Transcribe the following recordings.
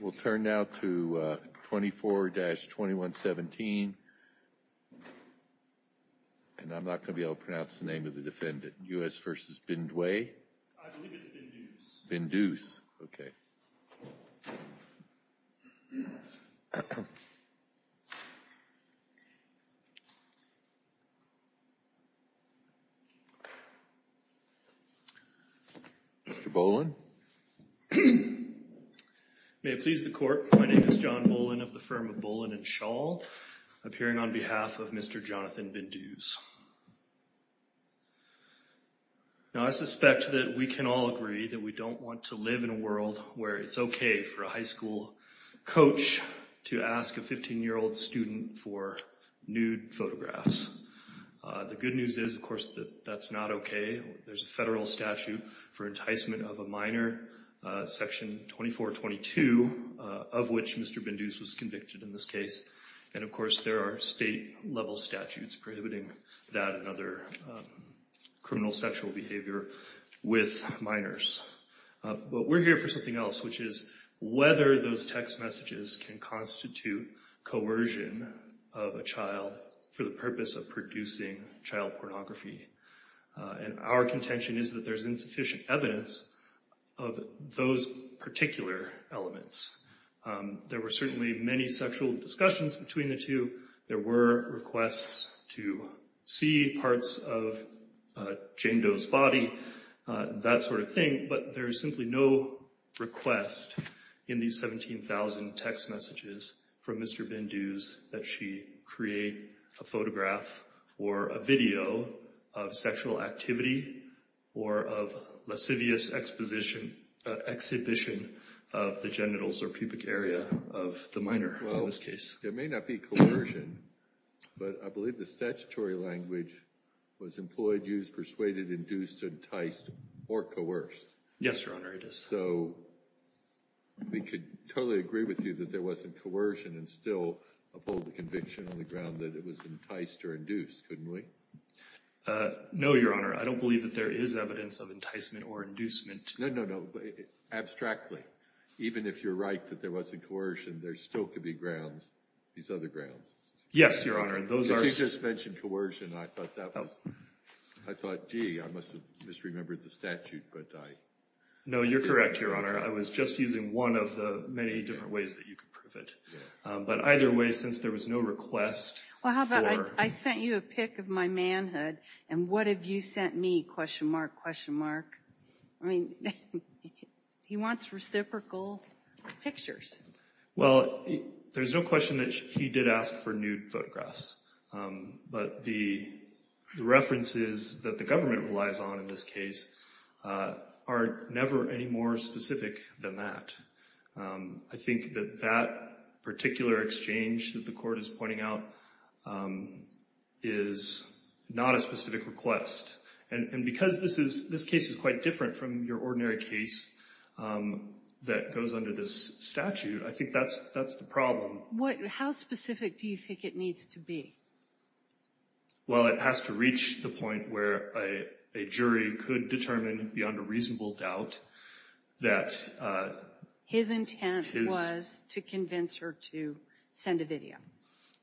We'll turn now to 24-2117, and I'm not going to be able to pronounce the name of the defendant. U.S. v. Bindue? I believe it's Bindues. Bindues, okay. Mr. Boland? May it please the court, my name is John Boland of the firm of Boland & Shaw, appearing on behalf of Mr. Jonathan Bindues. Now, I suspect that we can all agree that we don't want to live in a world where it's okay for a high school coach to ask a 15-year-old student for nude photographs. The good news is, of course, that that's not okay. There's a federal statute for enticement of a minor, Section 2422, of which Mr. Bindues was convicted in this case. And, of course, there are state-level statutes prohibiting that and other criminal sexual behavior with minors. But we're here for something else, which is whether those text messages can constitute coercion of a child for the purpose of producing child pornography. And our contention is that there's insufficient evidence of those particular elements. There were certainly many sexual discussions between the two. There were requests to see parts of Jane Doe's body, that sort of thing. But there is simply no request in these 17,000 text messages from Mr. Bindues that she create a photograph or a video of sexual activity or of lascivious exhibition of the genitals or pubic area of the minor in this case. There may not be coercion, but I believe the statutory language was employed, used, persuaded, induced, enticed, or coerced. Yes, Your Honor, it is. So we could totally agree with you that there wasn't coercion and still uphold the conviction on the ground that it was enticed or induced, couldn't we? No, Your Honor. I don't believe that there is evidence of enticement or inducement. No, no, no. Abstractly, even if you're right that there wasn't coercion, there still could be grounds, these other grounds. Yes, Your Honor. You just mentioned coercion. I thought, gee, I must have misremembered the statute. No, you're correct, Your Honor. I was just using one of the many different ways that you could prove it. But either way, since there was no request for... Well, how about I sent you a pic of my manhood, and what have you sent me, question mark, question mark? I mean, he wants reciprocal pictures. Well, there's no question that he did ask for nude photographs. But the references that the government relies on in this case are never any more specific than that. I think that that particular exchange that the Court is pointing out is not a specific request. And because this case is quite different from your ordinary case that goes under this statute, I think that's the problem. How specific do you think it needs to be? Well, it has to reach the point where a jury could determine beyond a reasonable doubt that... His intent was to convince her to send a video.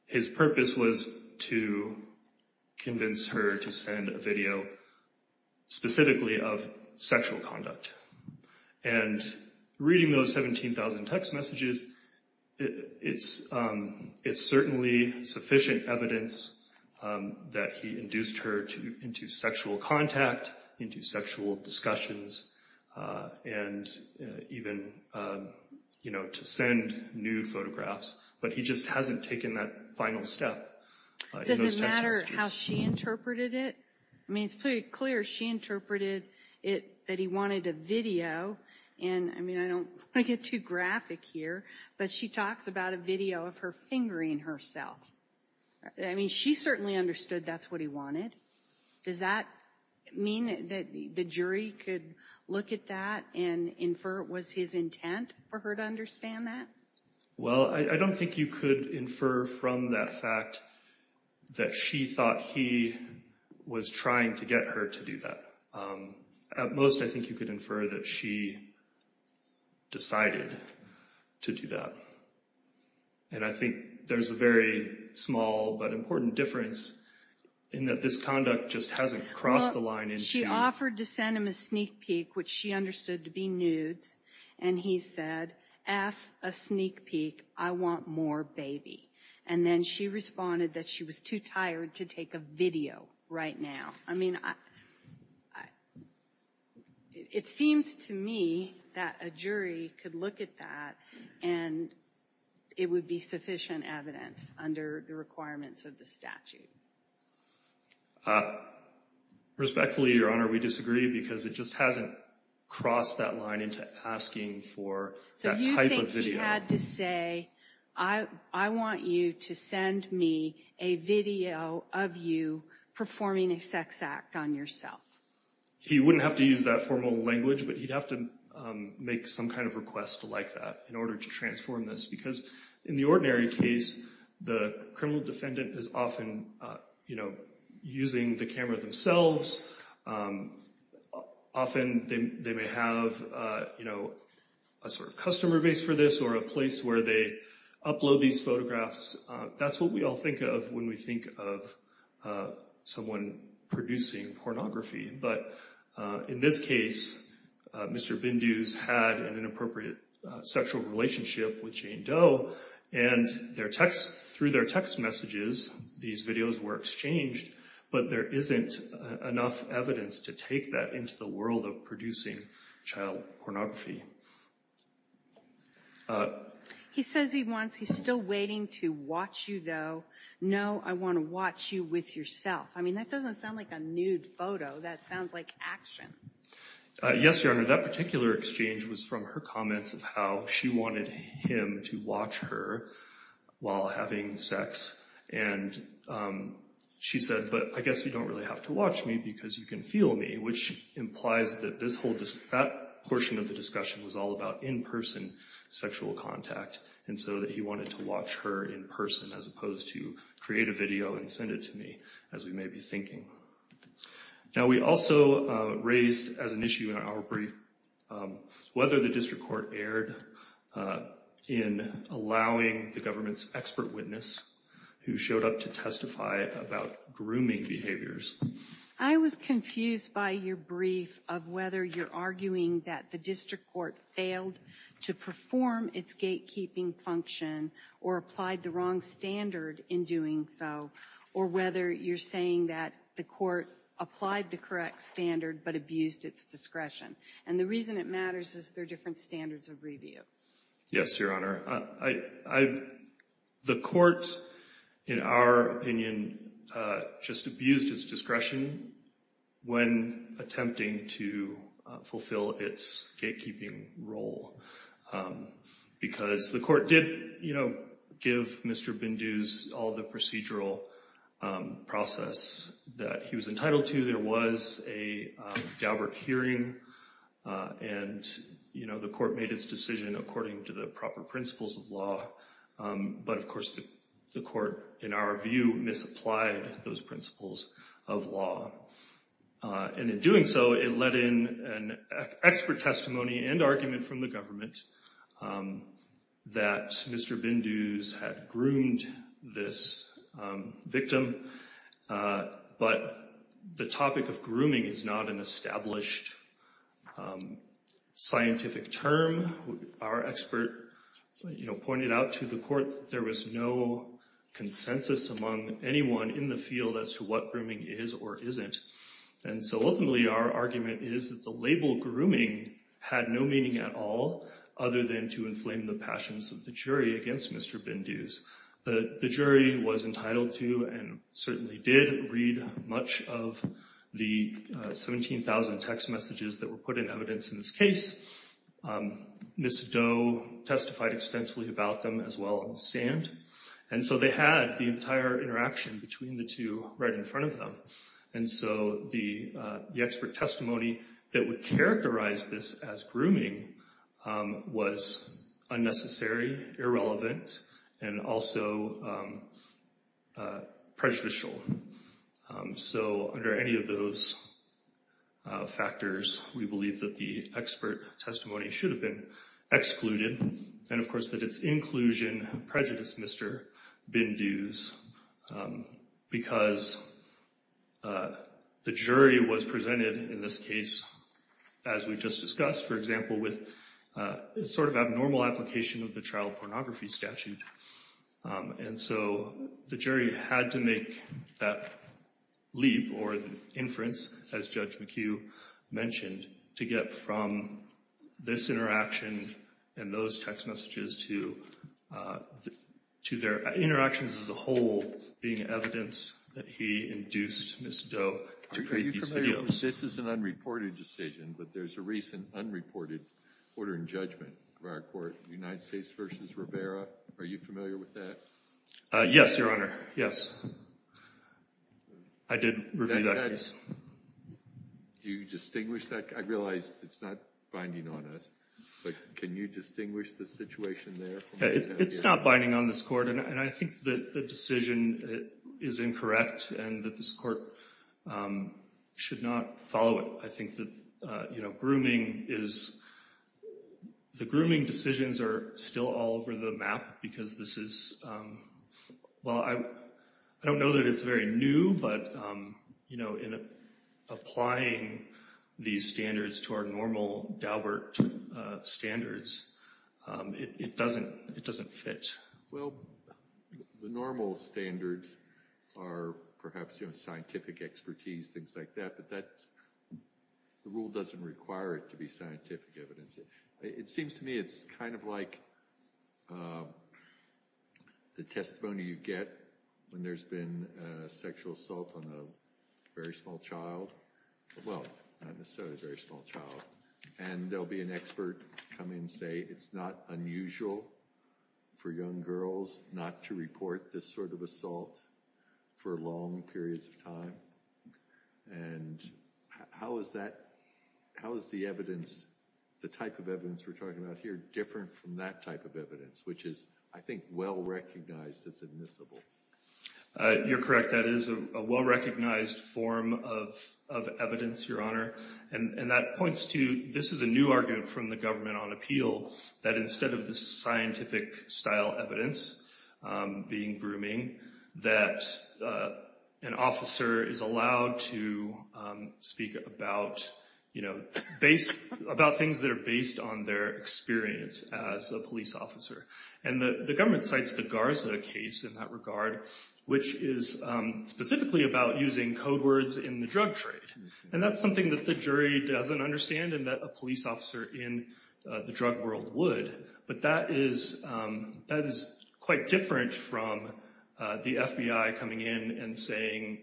His purpose was to convince her to send a video specifically of sexual conduct. And reading those 17,000 text messages, it's certainly sufficient evidence that he induced her into sexual contact, into sexual discussions, and even to send nude photographs. But he just hasn't taken that final step in those text messages. Does it matter how she interpreted it? I mean, it's pretty clear she interpreted it that he wanted a video. And, I mean, I don't want to get too graphic here, but she talks about a video of her fingering herself. I mean, she certainly understood that's what he wanted. Does that mean that the jury could look at that and infer it was his intent for her to understand that? Well, I don't think you could infer from that fact that she thought he was trying to get her to do that. At most, I think you could infer that she decided to do that. And I think there's a very small but important difference in that this conduct just hasn't crossed the line. She offered to send him a sneak peek, which she understood to be nudes. And he said, F, a sneak peek, I want more baby. And then she responded that she was too tired to take a video right now. I mean, it seems to me that a jury could look at that and it would be sufficient evidence under the requirements of the statute. Respectfully, Your Honor, we disagree because it just hasn't crossed that line into asking for that type of video. So you think he had to say, I want you to send me a video of you performing a sex act on yourself? He wouldn't have to use that formal language, but he'd have to make some kind of request to like that in order to transform this. Because in the ordinary case, the criminal defendant is often, you know, using the camera themselves. Often they may have, you know, a sort of customer base for this or a place where they upload these photographs. That's what we all think of when we think of someone producing pornography. But in this case, Mr. Bindu's had an inappropriate sexual relationship with Jane Doe. And through their text messages, these videos were exchanged. But there isn't enough evidence to take that into the world of producing child pornography. He says he wants, he's still waiting to watch you, though. No, I want to watch you with yourself. I mean, that doesn't sound like a nude photo. That sounds like action. Yes, Your Honor. That particular exchange was from her comments of how she wanted him to watch her while having sex. And she said, but I guess you don't really have to watch me because you can feel me, which implies that this whole, that portion of the discussion was all about in-person sexual contact. And so that he wanted to watch her in person as opposed to create a video and send it to me, as we may be thinking. Now, we also raised as an issue in our brief whether the district court erred in allowing the government's expert witness who showed up to testify about grooming behaviors. I was confused by your brief of whether you're arguing that the district court failed to perform its gatekeeping function or applied the wrong standard in doing so, or whether you're saying that the court applied the correct standard but abused its discretion. And the reason it matters is there are different standards of review. Yes, Your Honor. The court, in our opinion, just abused its discretion when attempting to fulfill its gatekeeping role. Because the court did give Mr. Bindu's all the procedural process that he was entitled to. Obviously, there was a Dauberk hearing, and the court made its decision according to the proper principles of law. But, of course, the court, in our view, misapplied those principles of law. And in doing so, it led in an expert testimony and argument from the government that Mr. Bindu's had groomed this victim. But the topic of grooming is not an established scientific term. Our expert pointed out to the court that there was no consensus among anyone in the field as to what grooming is or isn't. And so, ultimately, our argument is that the label grooming had no meaning at all other than to inflame the passions of the jury against Mr. Bindu's. The jury was entitled to and certainly did read much of the 17,000 text messages that were put in evidence in this case. Ms. Dau testified extensively about them as well on the stand. And so they had the entire interaction between the two right in front of them. And so the expert testimony that would characterize this as grooming was unnecessary, irrelevant, and also prejudicial. So under any of those factors, we believe that the expert testimony should have been excluded. And, of course, that its inclusion prejudiced Mr. Bindu's because the jury was presented in this case, as we just discussed, for example, with a sort of abnormal application of the child pornography statute. And so the jury had to make that leap or inference, as Judge McHugh mentioned, to get from this interaction and those text messages to their interactions as a whole being evidence that he induced Ms. Dau to create these videos. This is an unreported decision, but there's a recent unreported order in judgment of our court, United States v. Rivera. Are you familiar with that? Yes, Your Honor, yes. I did review that case. Do you distinguish that? I realize it's not binding on us, but can you distinguish the situation there? It's not binding on this court, and I think that the decision is incorrect and that this court should not follow it. I think that grooming is, the grooming decisions are still all over the map because this is, well, I don't know that it's very new, but in applying these standards to our normal Daubert standards, it doesn't fit. Well, the normal standards are perhaps scientific expertise, things like that, but the rule doesn't require it to be scientific evidence. It seems to me it's kind of like the testimony you get when there's been a sexual assault on a very small child. Well, not necessarily a very small child. And there'll be an expert come in and say it's not unusual for young girls not to report this sort of assault for long periods of time. And how is that, how is the evidence, the type of evidence we're talking about here, different from that type of evidence, which is, I think, well recognized as admissible? You're correct. That is a well recognized form of evidence, Your Honor. And that points to, this is a new argument from the government on appeal, that instead of the scientific style evidence being grooming, that an officer is allowed to speak about things that are based on their experience as a police officer. And the government cites the Garza case in that regard, which is specifically about using code words in the drug trade. And that's something that the jury doesn't understand and that a police officer in the drug world would. But that is quite different from the FBI coming in and saying,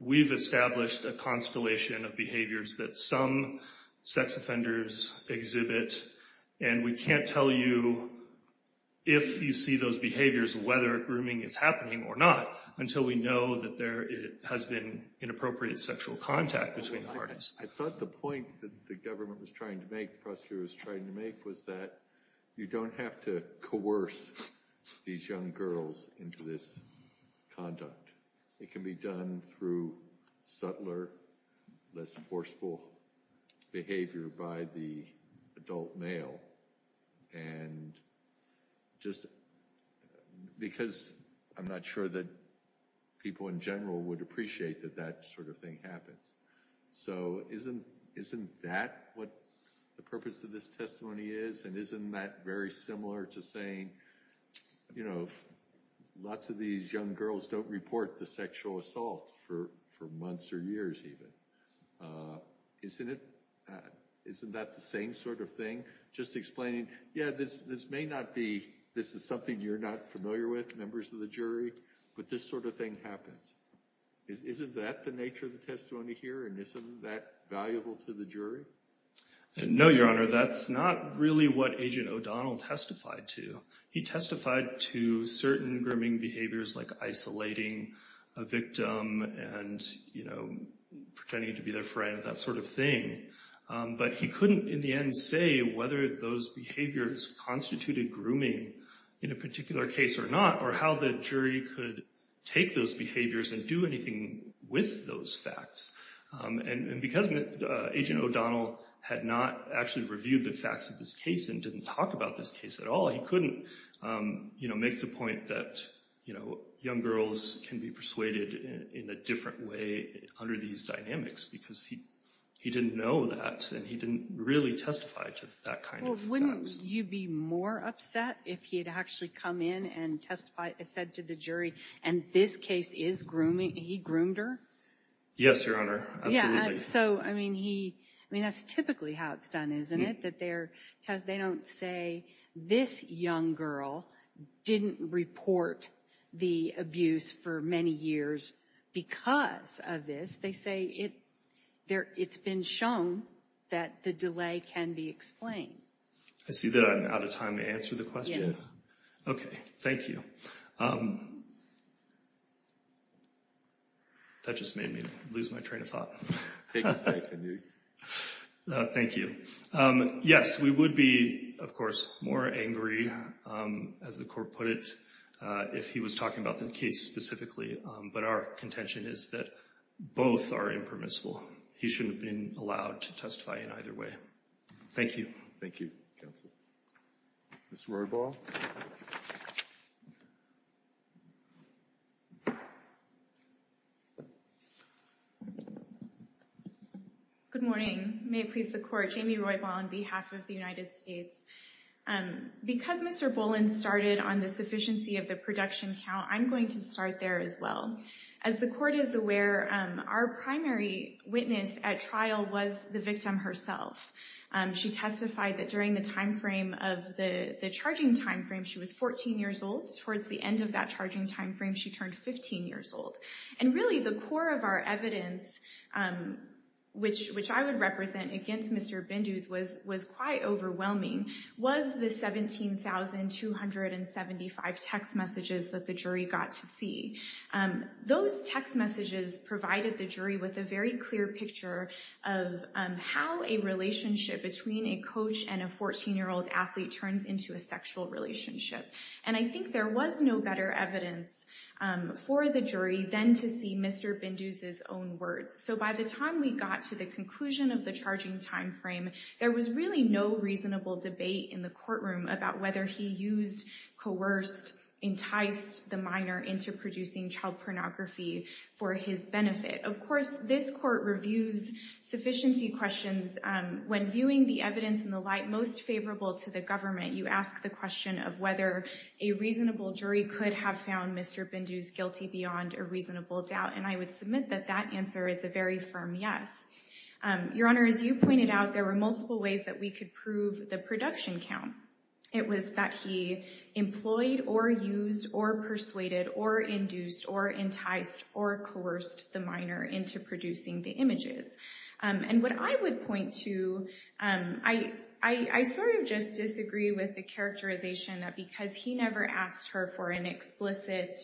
we've established a constellation of behaviors that some sex offenders exhibit, and we can't tell you if you see those behaviors, whether grooming is happening or not, until we know that there has been inappropriate sexual contact between parties. I thought the point that the government was trying to make, the prosecutor was trying to make, was that you don't have to coerce these young girls into this conduct. It can be done through subtler, less forceful behavior by the adult male. And just because I'm not sure that people in general would appreciate that that sort of thing happens. So isn't that what the purpose of this testimony is? And isn't that very similar to saying, you know, lots of these young girls don't report the sexual assault for months or years even? Isn't it? Isn't that the same sort of thing? Just explaining, yeah, this may not be, this is something you're not familiar with, members of the jury, but this sort of thing happens. Isn't that the nature of the testimony here? And isn't that valuable to the jury? No, Your Honor, that's not really what Agent O'Donnell testified to. He testified to certain grooming behaviors like isolating a victim and, you know, pretending to be their friend, that sort of thing. But he couldn't in the end say whether those behaviors constituted grooming in a particular case or not, or how the jury could take those behaviors and do anything with those facts. And because Agent O'Donnell had not actually reviewed the facts of this case and didn't talk about this case at all, he couldn't, you know, make the point that, you know, young girls can be persuaded in a different way under these dynamics because he didn't know that and he didn't really testify to that kind of facts. Well, wouldn't you be more upset if he had actually come in and testified, said to the jury, and this case is grooming, he groomed her? Yes, Your Honor, absolutely. So, I mean, that's typically how it's done, isn't it? That they don't say, this young girl didn't report the abuse for many years because of this. They say it's been shown that the delay can be explained. I see that I'm out of time to answer the question. Okay, thank you. That just made me lose my train of thought. Thank you. Yes, we would be, of course, more angry, as the court put it, if he was talking about the case specifically. But our contention is that both are impermissible. He shouldn't have been allowed to testify in either way. Thank you. Thank you, counsel. Ms. Roybal. Good morning. May it please the Court, Jamie Roybal on behalf of the United States. Because Mr. Boland started on the sufficiency of the production count, I'm going to start there as well. As the Court is aware, our primary witness at trial was the victim herself. She testified that during the time frame of the charging time frame, she was 14 years old. Towards the end of that charging time frame, she turned 15 years old. And really, the core of our evidence, which I would represent against Mr. Bindu's, was quite overwhelming, was the 17,275 text messages that the jury got to see. Those text messages provided the jury with a very clear picture of how a relationship between a coach and a 14-year-old athlete turns into a sexual relationship. And I think there was no better evidence for the jury than to see Mr. Bindu's own words. So by the time we got to the conclusion of the charging time frame, there was really no reasonable debate in the courtroom about whether he used, coerced, enticed the minor into producing child pornography for his benefit. Of course, this Court reviews sufficiency questions. When viewing the evidence in the light most favorable to the government, you ask the question of whether a reasonable jury could have found Mr. Bindu's guilty beyond a reasonable doubt. And I would submit that that answer is a very firm yes. Your Honor, as you pointed out, there were multiple ways that we could prove the production count. It was that he employed, or used, or persuaded, or induced, or enticed, or coerced the minor into producing the images. And what I would point to, I sort of just disagree with the characterization that because he never asked her for an explicit,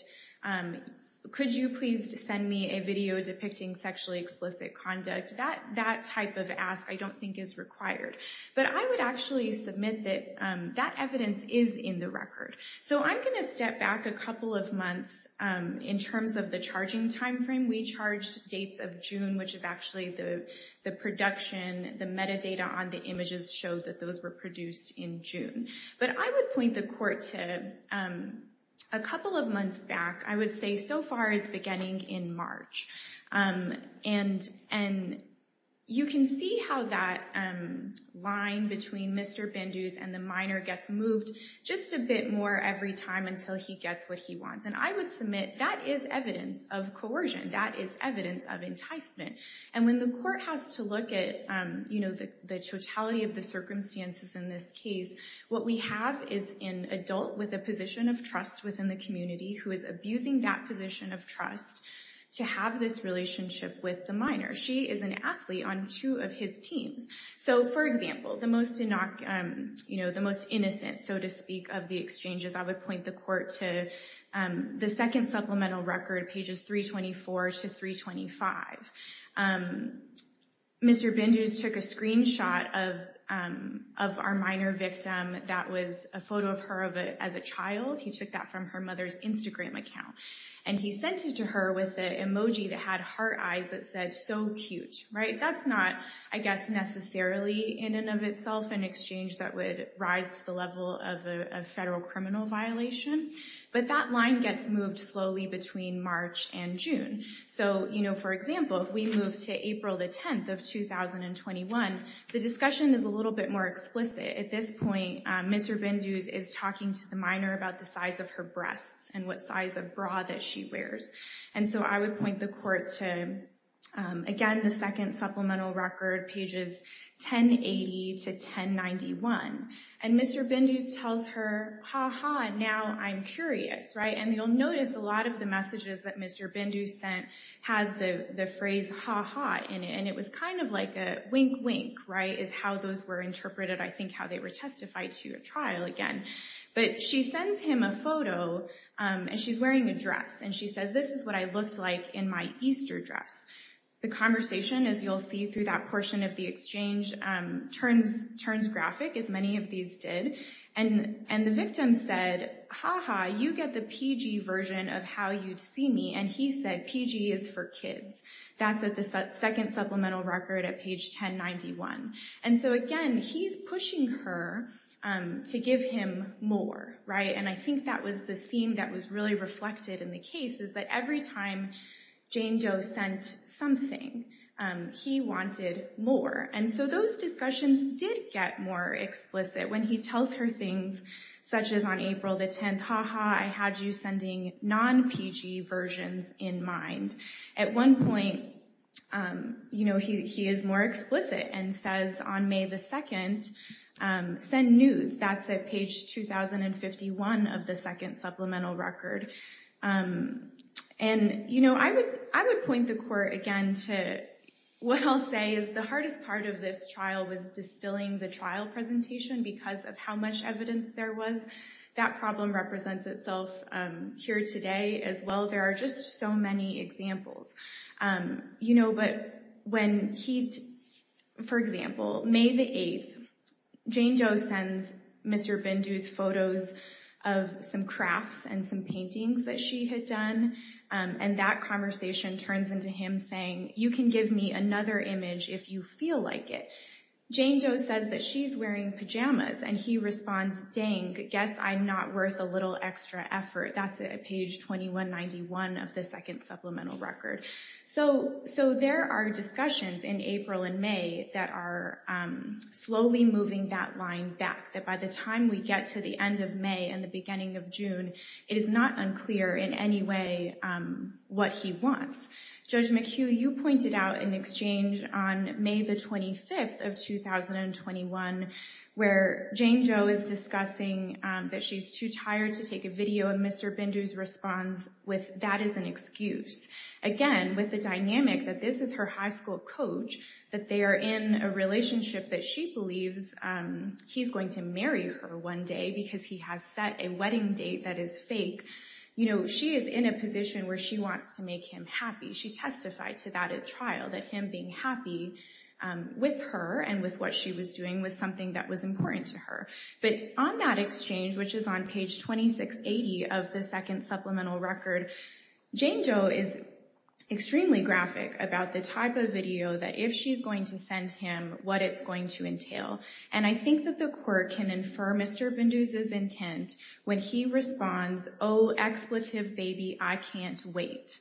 could you please send me a video depicting sexually explicit conduct, that type of ask I don't think is required. But I would actually submit that that evidence is in the record. So I'm going to step back a couple of months in terms of the charging time frame. We charged dates of June, which is actually the production, the metadata on the images showed that those were produced in June. But I would point the court to a couple of months back, I would say so far it's beginning in March. And you can see how that line between Mr. Bindu's and the minor gets moved just a bit more every time until he gets what he wants. And I would submit that is evidence of coercion. That is evidence of enticement. And when the court has to look at the totality of the circumstances in this case, what we have is an adult with a position of trust within the community who is abusing that position of trust to have this relationship with the minor. She is an athlete on two of his teams. So for example, the most innocent, so to speak, of the exchanges, I would point the court to the second supplemental record, pages 324 to 325. Mr. Bindu's took a screenshot of our minor victim that was a photo of her as a child. He took that from her mother's Instagram account. And he sent it to her with an emoji that had heart eyes that said, so cute. That's not, I guess, necessarily in and of itself an exchange that would rise to the level of a federal criminal violation. But that line gets moved slowly between March and June. So for example, if we move to April the 10th of 2021, the discussion is a little bit more explicit. At this point, Mr. Bindu's is talking to the minor about the size of her breasts and what size of bra that she wears. And so I would point the court to, again, the second supplemental record, pages 1080 to 1091. And Mr. Bindu's tells her, ha ha, now I'm curious, right? And you'll notice a lot of the messages that Mr. Bindu's sent had the phrase ha ha in it. And it was kind of like a wink wink, right, is how those were interpreted, I think, how they were testified to at trial again. But she sends him a photo, and she's wearing a dress. And she says, this is what I looked like in my Easter dress. The conversation, as you'll see through that portion of the exchange, turns graphic, as many of these did. And the victim said, ha ha, you get the PG version of how you'd see me. And he said, PG is for kids. That's at the second supplemental record at page 1091. And so, again, he's pushing her to give him more, right? And I think that was the theme that was really reflected in the case, is that every time Jane Doe sent something, he wanted more. And so those discussions did get more explicit when he tells her things, such as on April the 10th, ha ha, I had you sending non-PG versions in mind. At one point, he is more explicit and says, on May the 2nd, send nudes. That's at page 2051 of the second supplemental record. And I would point the court, again, to what I'll say is the hardest part of this trial was distilling the trial presentation because of how much evidence there was. That problem represents itself here today as well. There are just so many examples. You know, but when he, for example, May the 8th, Jane Doe sends Mr. Bindu's photos of some crafts and some paintings that she had done. And that conversation turns into him saying, you can give me another image if you feel like it. Jane Doe says that she's wearing pajamas. And he responds, dang, guess I'm not worth a little extra effort. That's at page 2191 of the second supplemental record. So there are discussions in April and May that are slowly moving that line back. That by the time we get to the end of May and the beginning of June, it is not unclear in any way what he wants. Judge McHugh, you pointed out an exchange on May the 25th of 2021 where Jane Doe is discussing that she's too tired to take a video. And Mr. Bindu's response with that is an excuse. Again, with the dynamic that this is her high school coach, that they are in a relationship that she believes he's going to marry her one day because he has set a wedding date that is fake. She is in a position where she wants to make him happy. She testified to that at trial, that him being happy with her and with what she was doing was something that was important to her. But on that exchange, which is on page 2680 of the second supplemental record, Jane Doe is extremely graphic about the type of video that if she's going to send him, what it's going to entail. And I think that the court can infer Mr. Bindu's intent when he responds, oh, expletive baby, I can't wait.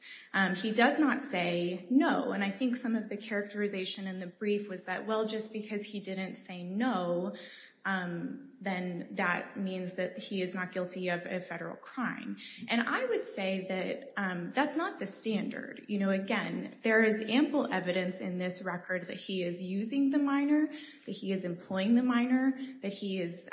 He does not say no. And I think some of the characterization in the brief was that, well, just because he didn't say no, then that means that he is not guilty of a federal crime. And I would say that that's not the standard. Again, there is ample evidence in this record that he is using the minor, that he is employing the minor, that he is,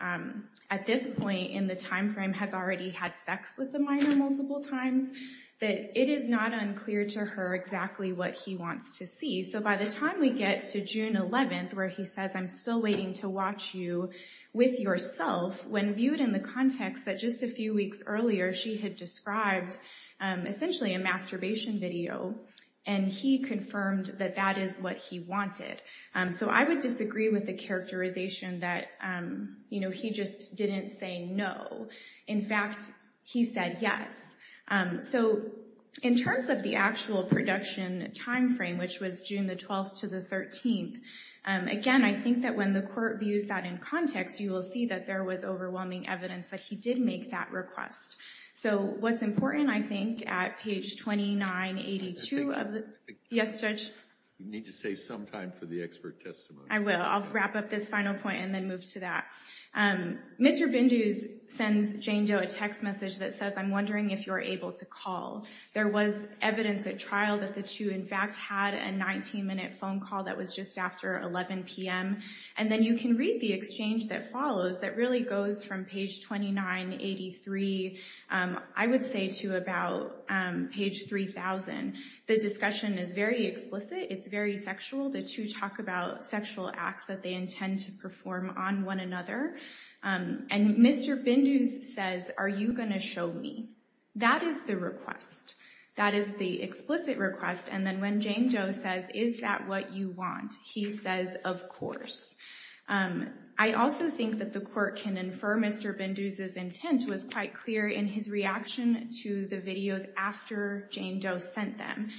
at this point in the time frame, has already had sex with the minor multiple times, that it is not unclear to her exactly what he wants to see. So by the time we get to June 11th, where he says, I'm still waiting to watch you with yourself, when viewed in the context that just a few weeks earlier, she had described essentially a masturbation video. And he confirmed that that is what he wanted. So I would disagree with the characterization that he just didn't say no. In fact, he said yes. So in terms of the actual production time frame, which was June the 12th to the 13th, again, I think that when the court views that in context, you will see that there was overwhelming evidence that he did make that request. So what's important, I think, at page 2982 of the, yes, Judge? You need to save some time for the expert testimony. I will. I'll wrap up this final point and then move to that. Mr. Bindu sends Jane Doe a text message that says, I'm wondering if you're able to call. There was evidence at trial that the two, in fact, had a 19-minute phone call that was just after 11 p.m. And then you can read the exchange that follows that really goes from page 2983, I would say, to about page 3000. The discussion is very explicit. It's very sexual. The two talk about sexual acts that they intend to perform on one another. And Mr. Bindu says, are you going to show me? That is the request. That is the explicit request. And then when Jane Doe says, is that what you want, he says, of course. I also think that the court can infer Mr. Bindu's intent was quite clear in his reaction to the videos after Jane Doe sent them.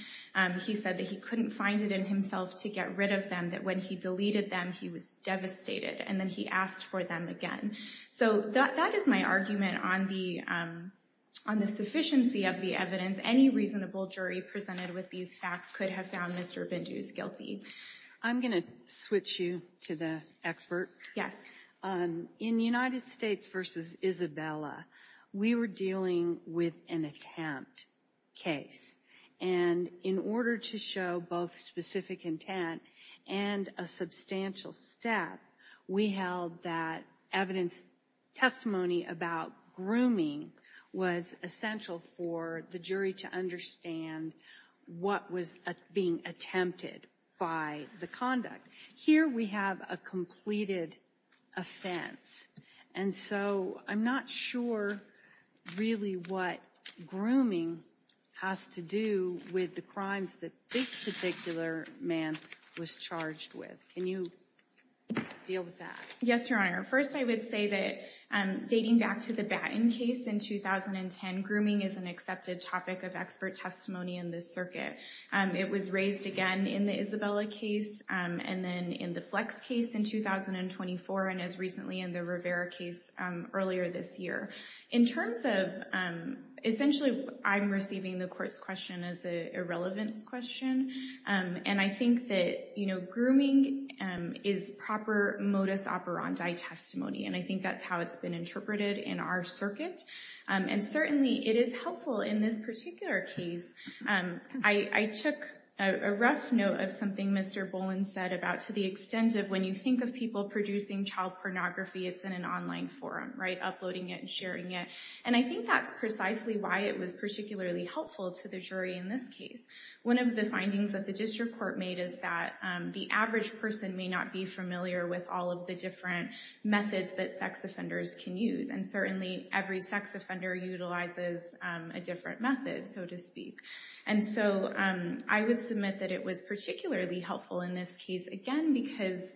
He said that he couldn't find it in himself to get rid of them, that when he deleted them, he was devastated. And then he asked for them again. So that is my argument on the sufficiency of the evidence. Any reasonable jury presented with these facts could have found Mr. Bindu's guilty. I'm going to switch you to the expert. Yes. In United States v. Isabella, we were dealing with an attempt case. And in order to show both specific intent and a substantial step, we held that evidence testimony about grooming was essential for the jury to understand what was being attempted by the conduct. Here we have a completed offense. And so I'm not sure really what grooming has to do with the crimes that this particular man was charged with. Can you deal with that? Yes, Your Honor. First, I would say that dating back to the Batten case in 2010, grooming is an accepted topic of expert testimony in this circuit. It was raised again in the Isabella case, and then in the Flex case in 2024, and as recently in the Rivera case earlier this year. In terms of—essentially, I'm receiving the court's question as an irrelevance question. And I think that grooming is proper modus operandi testimony, and I think that's how it's been interpreted in our circuit. And certainly it is helpful in this particular case. I took a rough note of something Mr. Boland said about to the extent of when you think of people producing child pornography, it's in an online forum, right? Uploading it and sharing it. And I think that's precisely why it was particularly helpful to the jury in this case. One of the findings that the district court made is that the average person may not be familiar with all of the different methods that sex offenders can use. And certainly every sex offender utilizes a different method, so to speak. And so I would submit that it was particularly helpful in this case, again, because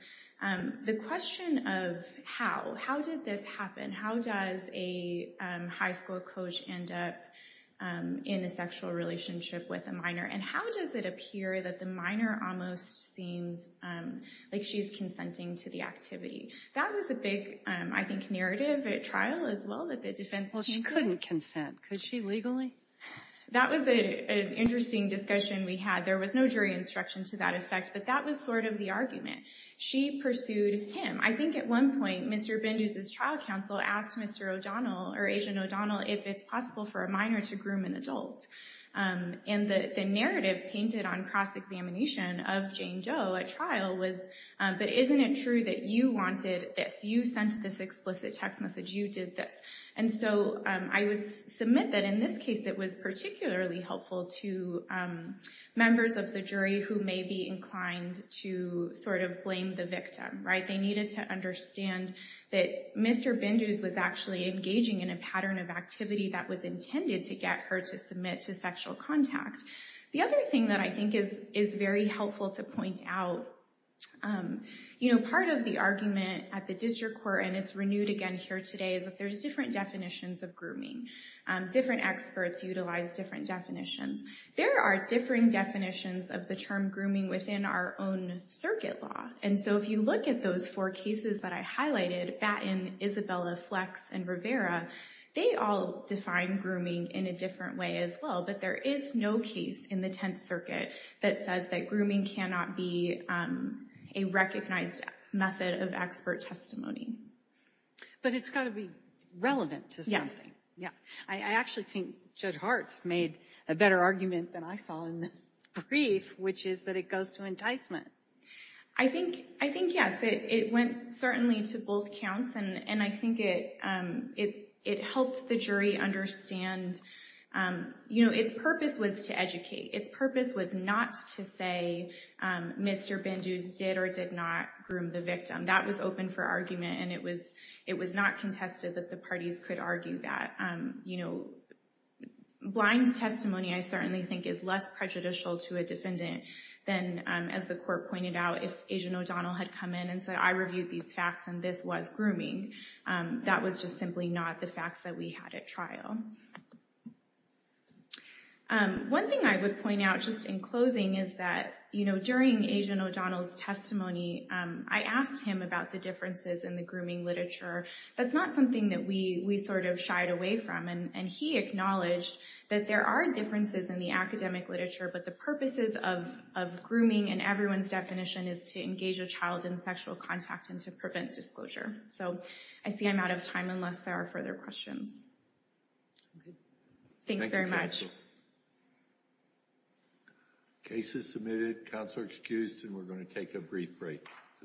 the question of how, how did this happen? How does a high school coach end up in a sexual relationship with a minor? And how does it appear that the minor almost seems like she's consenting to the activity? That was a big, I think, narrative at trial as well, that the defense... Well, she couldn't consent. Could she legally? That was an interesting discussion we had. There was no jury instruction to that effect, but that was sort of the argument. She pursued him. I think at one point, Mr. Bendews' trial counsel asked Mr. O'Donnell, or Agent O'Donnell, if it's possible for a minor to groom an adult. And the narrative painted on cross-examination of Jane Doe at trial was, but isn't it true that you wanted this? You sent this explicit text message. You did this. And so I would submit that in this case, it was particularly helpful to members of the jury who may be inclined to sort of blame the victim. They needed to understand that Mr. Bendews was actually engaging in a pattern of activity that was intended to get her to submit to sexual contact. The other thing that I think is very helpful to point out, part of the argument at the district court, and it's renewed again here today, is that there's different definitions of grooming. Different experts utilize different definitions. There are differing definitions of the term grooming within our own circuit law. And so if you look at those four cases that I highlighted, Batten, Isabella, Flex, and Rivera, they all define grooming in a different way as well. But there is no case in the Tenth Circuit that says that grooming cannot be a recognized method of expert testimony. But it's got to be relevant to something. I actually think Judge Hartz made a better argument than I saw in the brief, which is that it goes to enticement. I think yes. It went certainly to both counts, and I think it helped the jury understand, you know, its purpose was to educate. Its purpose was not to say Mr. Bendews did or did not groom the victim. That was open for argument, and it was not contested that the parties could argue that. Blind testimony, I certainly think, is less prejudicial to a defendant than, as the court pointed out, if Ajan O'Donnell had come in and said, I reviewed these facts, and this was grooming. That was just simply not the facts that we had at trial. One thing I would point out, just in closing, is that, you know, during Ajan O'Donnell's testimony, I asked him about the differences in the grooming literature. That's not something that we sort of shied away from. And he acknowledged that there are differences in the academic literature, but the purposes of grooming in everyone's definition is to engage a child in sexual contact and to prevent disclosure. So I see I'm out of time unless there are further questions. Thanks very much. Case is submitted. Counselor excused, and we're going to take a brief break.